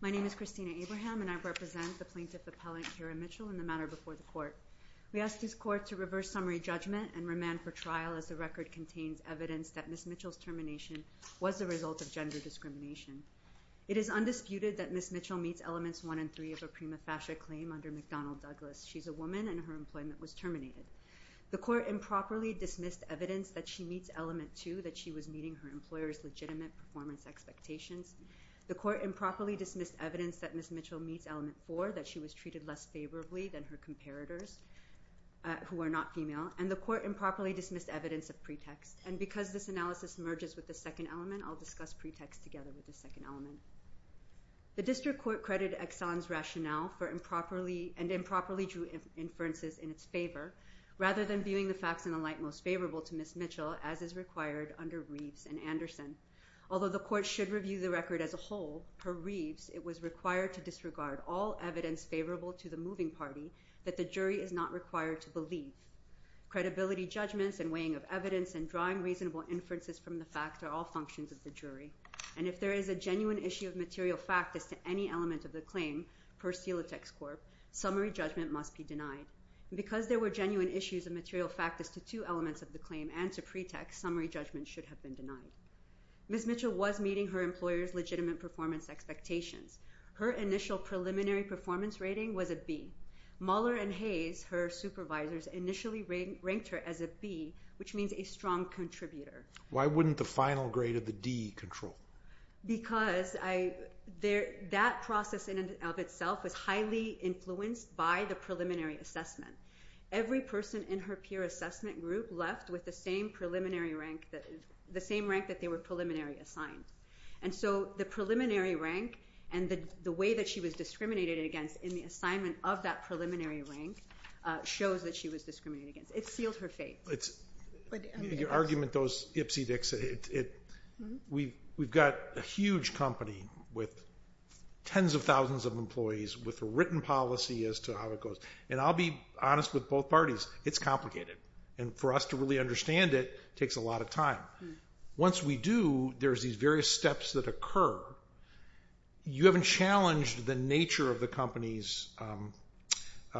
My name is Christina Abraham, and I represent the plaintiff appellant Kira Mitchell in the matter before the court. We ask this court to reverse summary judgment and remand for trial as the record contains evidence that Ms. Mitchell's termination was the result of gender discrimination. It is undisputed that Ms. Mitchell meets Elements 1 and 3 of a prima facie claim under McDonnell Douglas. She's a woman, and her employment was terminated. The court improperly dismissed evidence that she meets Element 2, that she was meeting her employer's legitimate performance expectations. The court improperly dismissed evidence that Ms. Mitchell meets Element 4, that she was treated less favorably than her comparators, who are not female. And the court improperly dismissed evidence of pretext. And because this analysis merges with the second element, I'll discuss pretext together with the second element. The district court credited Exxon's rationale for improperly and improperly drew inferences in its favor, rather than viewing the facts in the light most favorable to Ms. Mitchell, as is required under Reeves and Anderson. Although the court should review the record as a whole, per Reeves, it was required to disregard all evidence favorable to the moving party that the jury is not required to believe. Credibility judgments, and weighing of evidence, and drawing reasonable inferences from the fact are all functions of the jury. And if there is a genuine issue of material fact as to any element of the claim, per Celotex Corp., summary judgment must be denied. Because there were genuine issues of material fact as to two elements of the claim and to pretext, summary judgment should have been denied. Ms. Mitchell was meeting her employer's legitimate performance expectations. Her initial preliminary performance rating was a B. Mueller and Hayes, her supervisors, initially ranked her as a B, which means a strong contributor. Why wouldn't the final grade of the D control? Because that process in and of itself was highly influenced by the preliminary assessment. Every person in her peer assessment group left with the same rank that they were preliminary assigned. And so the preliminary rank and the way that she was discriminated against in the assignment of that preliminary rank shows that she was discriminated against. It sealed her fate. Your argument, those ipsy dicks, we've got a huge company with tens of thousands of employees with a written policy as to how it goes. And I'll be honest with both parties, it's complicated. And for us to really understand it takes a lot of time. Once we do, there's these various steps that occur. You haven't challenged the nature of the company's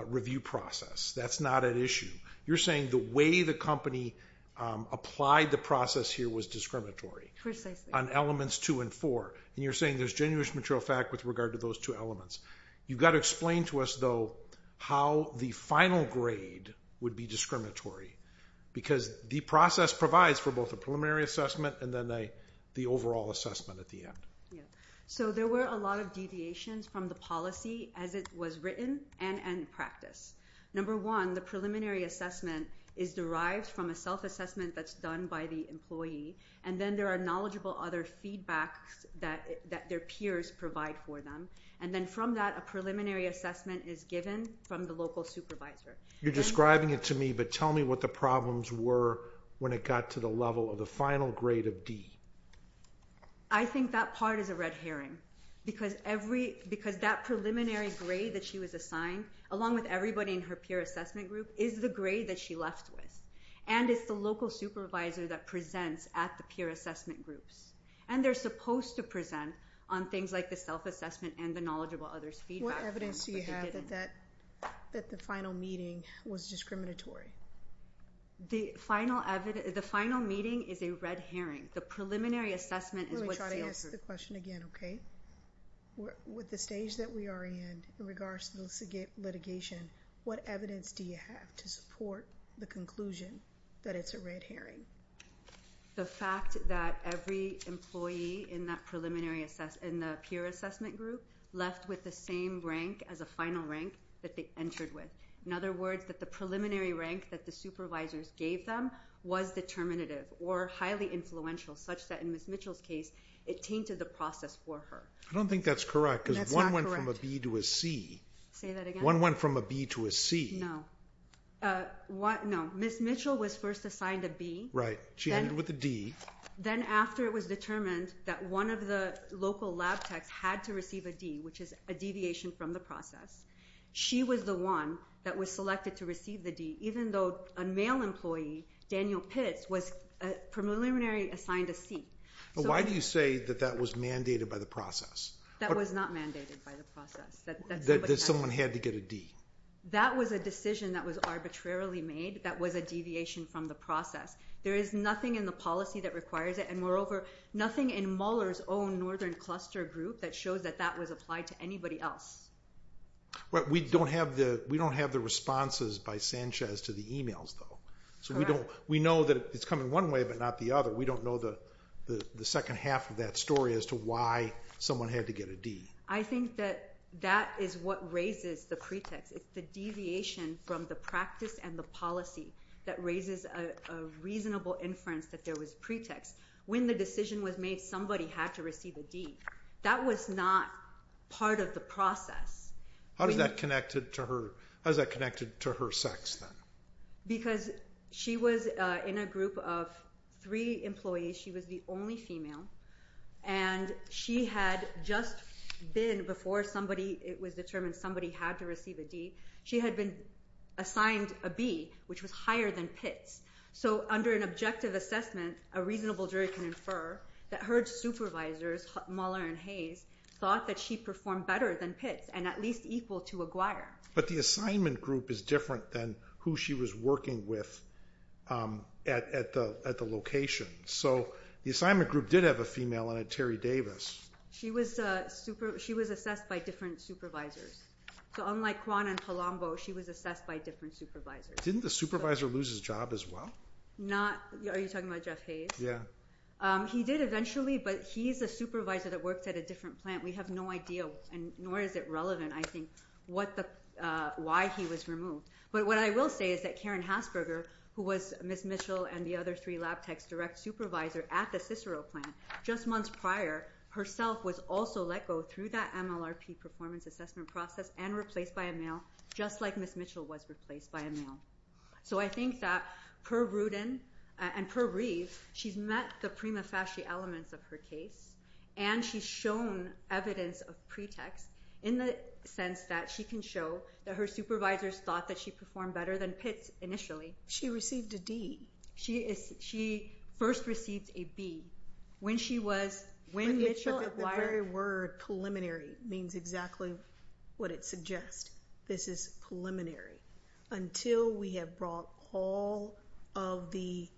review process. That's not at issue. You're saying the way the company applied the process here was discriminatory on elements two and four. And you're saying there's genuine material fact with regard to those two elements. You've got to explain to us, though, how the final grade would be discriminatory. Because the process provides for both a preliminary assessment and then the overall assessment at the end. So there were a lot of deviations from the policy as it was written and in practice. Number one, the preliminary assessment is derived from a self-assessment that's done by the employee. And then there are knowledgeable other feedback that their peers provide for them. And then from that, a preliminary assessment is given from the local supervisor. You're describing it to me, but tell me what the problems were when it got to the level of the final grade of D. I think that part is a red herring. Because that preliminary grade that she was assigned, along with everybody in her peer assessment group, is the grade that she left with. And it's the local supervisor that presents at the peer assessment groups. And they're supposed to present on things like the self-assessment and the knowledgeable others feedback from the beginning. What evidence do you have that the final meeting was discriminatory? The final meeting is a red herring. The preliminary assessment is what sales are. Let me try to ask the question again, OK? With the stage that we are in, in regards to litigation, what evidence do you have to support the conclusion that it's a red herring? The fact that every employee in that preliminary assessment, in the peer assessment group, left with the same rank as a final rank that they entered with. In other words, that the preliminary rank that the supervisors gave them was determinative or highly influential, such that in Ms. Mitchell's case, it tainted the process for her. I don't think that's correct. That's not correct. Because one went from a B to a C. Say that again? One went from a B to a C. No. No, Ms. Mitchell was first assigned a B. Right, she ended with a D. Then after it was determined that one of the local lab techs had to receive a D, which is a deviation from the process, she was the one that was selected to receive the D, even though a male employee, Daniel Pitts, was preliminary assigned a C. Why do you say that that was mandated by the process? That was not mandated by the process. That someone had to get a D. That was a decision that was arbitrarily made. That was a deviation from the process. There is nothing in the policy that requires it. And moreover, nothing in Mueller's own Northern Cluster group that shows that that was applied to anybody else. We don't have the responses by Sanchez to the emails, though. So we know that it's coming one way, but not the other. We don't know the second half of that story as to why someone had to get a D. I think that that is what raises the pretext. It's the deviation from the practice and the policy that raises a reasonable inference that there was pretext. When the decision was made, somebody had to receive a D. That was not part of the process. How is that connected to her sex, then? Because she was in a group of three employees. She was the only female. And she had just been, before it was determined somebody had to receive a D, she had been assigned a B, which was higher than Pitts. So under an objective assessment, a reasonable jury can infer that her supervisors, Mueller and Hayes, thought that she performed better than Pitts and at least equal to Aguirre. But the assignment group is different than who she was working with at the location. So the assignment group did have a female in it, Terry Davis. She was assessed by different supervisors. So unlike Kwon and Palombo, she was assessed by different supervisors. Didn't the supervisor lose his job as well? Not, are you talking about Jeff Hayes? Yeah. He did eventually, but he's a supervisor that worked at a different plant. We have no idea, nor is it relevant, I think, why he was removed. But what I will say is that Karen Hasberger, who was Ms. Mitchell and the other three lab tech's direct supervisor at the Cicero plant just months prior, herself was also let go through that MLRP performance assessment process and replaced by a male, just like Ms. Mitchell was replaced by a male. So I think that, per Rudin and per Reeve, she's met the prima facie elements of her case and she's shown evidence of pretext in the sense that she can show that her supervisors thought that she performed better than Pitts initially. She received a D. She first received a B when she was, when Mitchell, Aguirre. The very word preliminary means exactly what it suggests. This is preliminary. Until we have brought all of the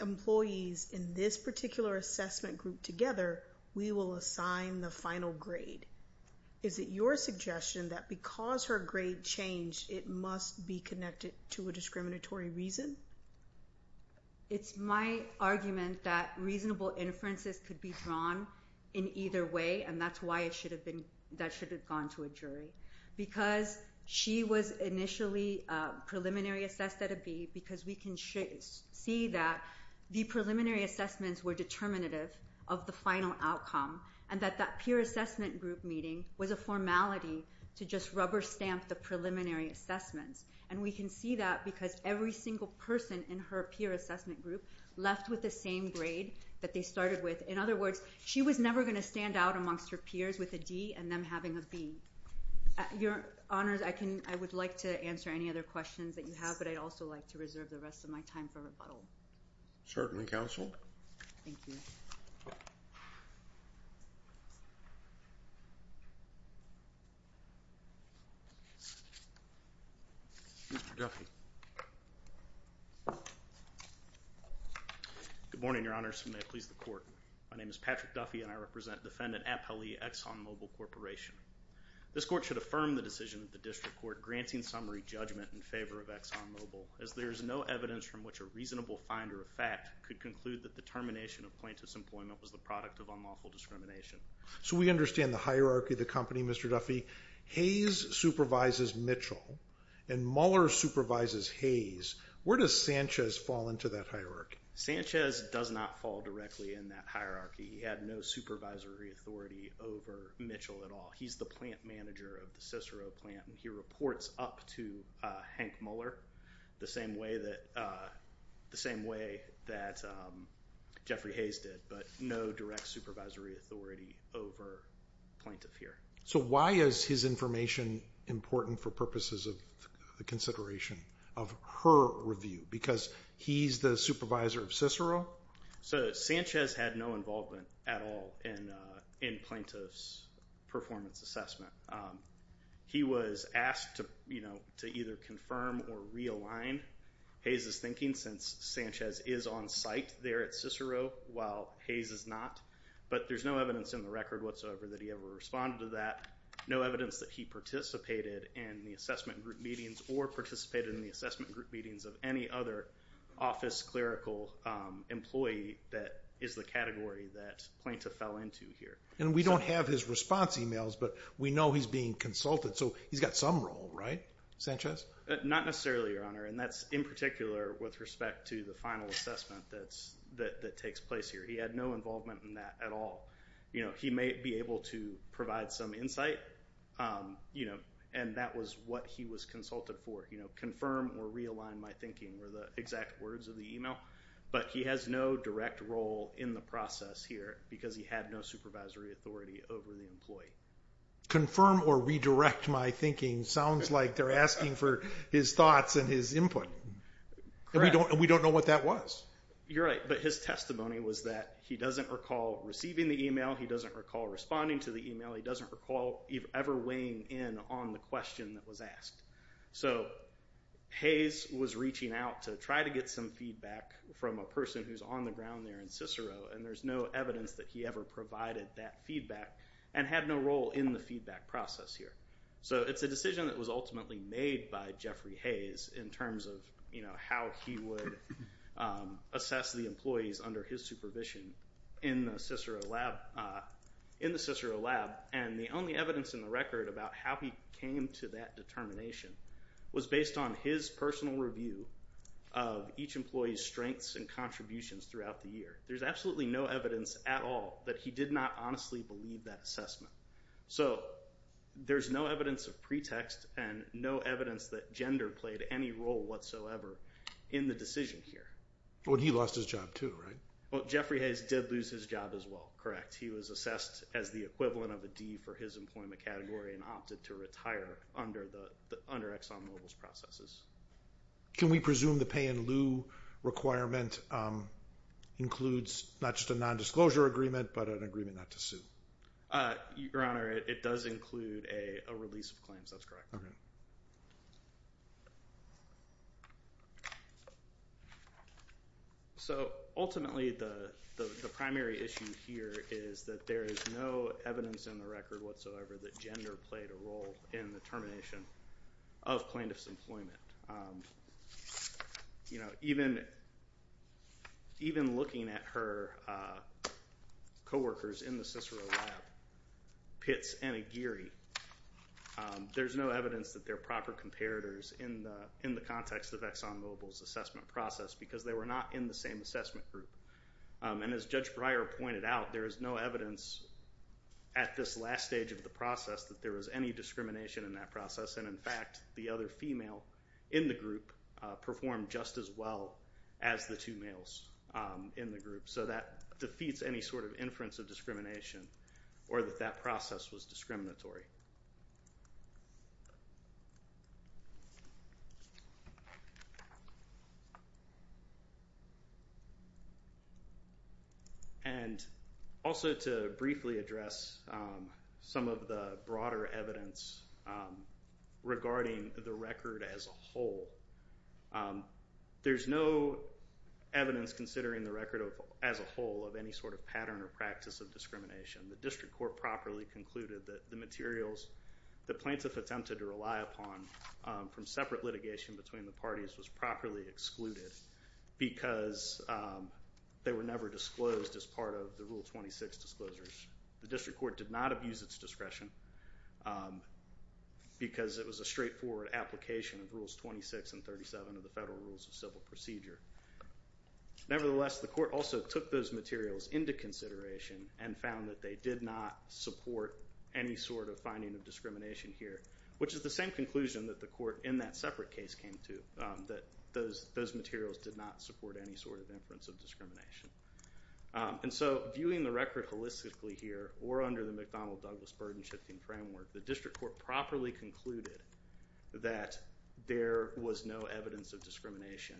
employees in this particular assessment group together, we will assign the final grade. Is it your suggestion that because her grade changed, it must be connected to a discriminatory reason? It's my argument that reasonable inferences could be drawn in either way, and that's why it should have been, that should have gone to a jury. Because she was initially preliminary assessed at a B because we can see that the preliminary assessments were determinative of the final outcome and that that peer assessment group meeting was a formality to just rubber stamp the preliminary assessments. And we can see that because every single person in her peer assessment group left with the same grade that they started with. In other words, she was never going to stand out amongst her peers with a D and them having a B. Your Honors, I would like to answer any other questions that you have, but I'd also like to reserve the rest of my time for rebuttal. Certainly, Counsel. Thank you. Mr. Duffy. Good morning, Your Honors, and may it please the Court. My name is Patrick Duffy, and I represent Defendant Appeli, ExxonMobil Corporation. This Court should affirm the decision of the District Court granting summary judgment in favor of ExxonMobil as there is no evidence from which a reasonable finder of fact could conclude that the termination of plaintiff's employment was the product of unlawful discrimination. So we understand the hierarchy of the company, Mr. Duffy. Hayes supervises Mitchell, and Mueller supervises Hayes. Where does Sanchez fall into that hierarchy? Sanchez does not fall directly in that hierarchy. He had no supervisory authority over Mitchell at all. He's the plant manager of the Cicero plant, and he reports up to Hank Mueller the same way that Jeffrey Hayes did, but no direct supervisory authority over plaintiff here. So why is his information important for purposes of consideration of her review? Because he's the supervisor of Cicero? So Sanchez had no involvement at all in plaintiff's performance assessment. He was asked to either confirm or realign Hayes' thinking, since Sanchez is on site there at Cicero, while Hayes is not. But there's no evidence in the record whatsoever that he ever responded to that, no evidence that he participated in the assessment group meetings or participated in the assessment group meetings of any other office clerical employee that is the category that plaintiff fell into here. And we don't have his response emails, but we know he's being consulted, so he's got some role, right, Sanchez? Not necessarily, Your Honor, and that's in particular with respect to the final assessment that takes place here. He had no involvement in that at all. He may be able to provide some insight, and that was what he was consulted for, you know, confirm or realign my thinking were the exact words of the email, but he has no direct role in the process here because he had no supervisory authority over the employee. Confirm or redirect my thinking sounds like they're asking for his thoughts and his input. Correct. And we don't know what that was. You're right, but his testimony was that he doesn't recall receiving the email, he doesn't recall responding to the email, he doesn't recall ever weighing in on the question that was asked. So Hayes was reaching out to try to get some feedback from a person who's on the ground there in Cicero, and there's no evidence that he ever provided that feedback and had no role in the feedback process here. So it's a decision that was ultimately made by Jeffrey Hayes in terms of, you know, how he would assess the employees under his supervision in the Cicero lab, and the only evidence in the record about how he came to that determination was based on his personal review of each employee's strengths and contributions throughout the year. There's absolutely no evidence at all that he did not honestly believe that assessment. So there's no evidence of pretext and no evidence that gender played any role whatsoever in the decision here. Well, he lost his job too, right? Well, Jeffrey Hayes did lose his job as well. Correct. He was assessed as the equivalent of a D for his employment category and opted to retire under ExxonMobil's processes. Can we presume the pay-in-lieu requirement includes not just a nondisclosure agreement, but an agreement not to sue? Your Honor, it does include a release of claims. That's correct. So ultimately, the primary issue here is that there is no evidence in the record whatsoever that gender played a role in the termination of plaintiff's employment. Even looking at her coworkers in the Cicero lab, Pitts and Aguirre, there's no evidence that they're proper comparators in the context of ExxonMobil's assessment process because they were not in the same assessment group. And as Judge Breyer pointed out, there is no evidence at this last stage of the process that there was any discrimination in that process. And in fact, the other female in the group performed just as well as the two males in the group. So that defeats any sort of inference of discrimination or that that process was discriminatory. And also to briefly address some of the broader evidence regarding the record as a whole, there's no evidence considering the record as a whole of any sort of pattern or practice of discrimination. The district court properly concluded that the material in the record that plaintiff attempted to rely upon from separate litigation between the parties was properly excluded because they were never disclosed as part of the Rule 26 disclosures. The district court did not abuse its discretion because it was a straightforward application of Rules 26 and 37 of the Federal Rules of Civil Procedure. Nevertheless, the court also took those materials into consideration and found that they did not support any sort of finding of discrimination here, which is the same conclusion that the court in that separate case came to, that those materials did not support any sort of inference of discrimination. And so viewing the record holistically here or under the McDonnell-Douglas burden-shifting framework, the district court properly concluded that there was no evidence of discrimination.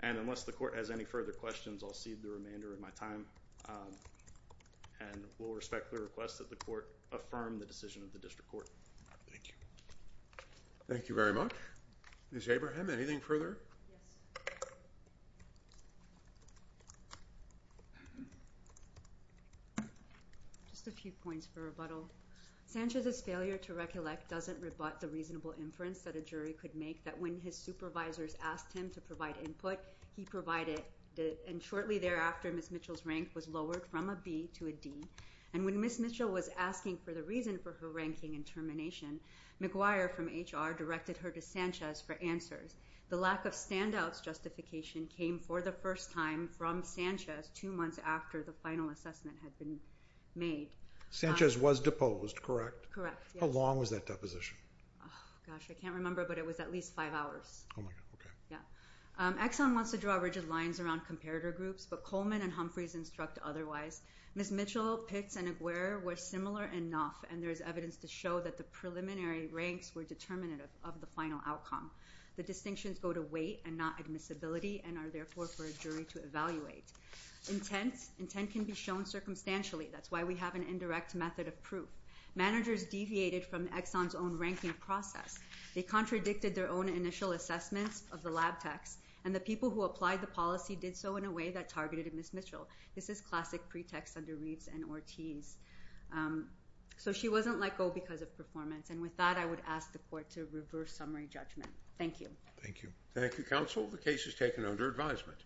And unless the court has any further questions, I'll cede the remainder of my time and will respect the request that the court affirm the decision of the district court. Thank you. Thank you very much. Ms. Abraham, anything further? Yes. Just a few points for rebuttal. Sanchez's failure to recollect doesn't rebut the reasonable inference that a jury could make that when his supervisors asked him to provide input, he provided it, and shortly thereafter, Ms. Mitchell's rank was lowered from a B to a D. And when Ms. Mitchell was asking for the reason for her ranking and termination, McGuire from HR directed her to Sanchez for answers. The lack of standouts justification came for the first time from Sanchez two months after the final assessment had been made. Sanchez was deposed, correct? Correct, yes. How long was that deposition? Gosh, I can't remember, but it was at least five hours. Oh my God, okay. Yeah. Exxon wants to draw rigid lines around comparator groups, but Coleman and Humphreys instruct otherwise. Ms. Mitchell, Pitts, and McGuire were similar enough, and there's evidence to show that the preliminary ranks were determinative of the final outcome. The distinctions go to weight and not admissibility and are therefore for a jury to evaluate. Intent can be shown circumstantially. That's why we have an indirect method of proof. Managers deviated from Exxon's own ranking process. They contradicted their own initial assessments of the lab techs, and the people who applied the policy did so in a way that targeted Ms. Mitchell. This is classic pretext under Reeves and Ortiz. So she wasn't let go because of performance. And with that, I would ask the court to reverse summary judgment. Thank you. Thank you. Thank you, counsel. The case is taken under advisement.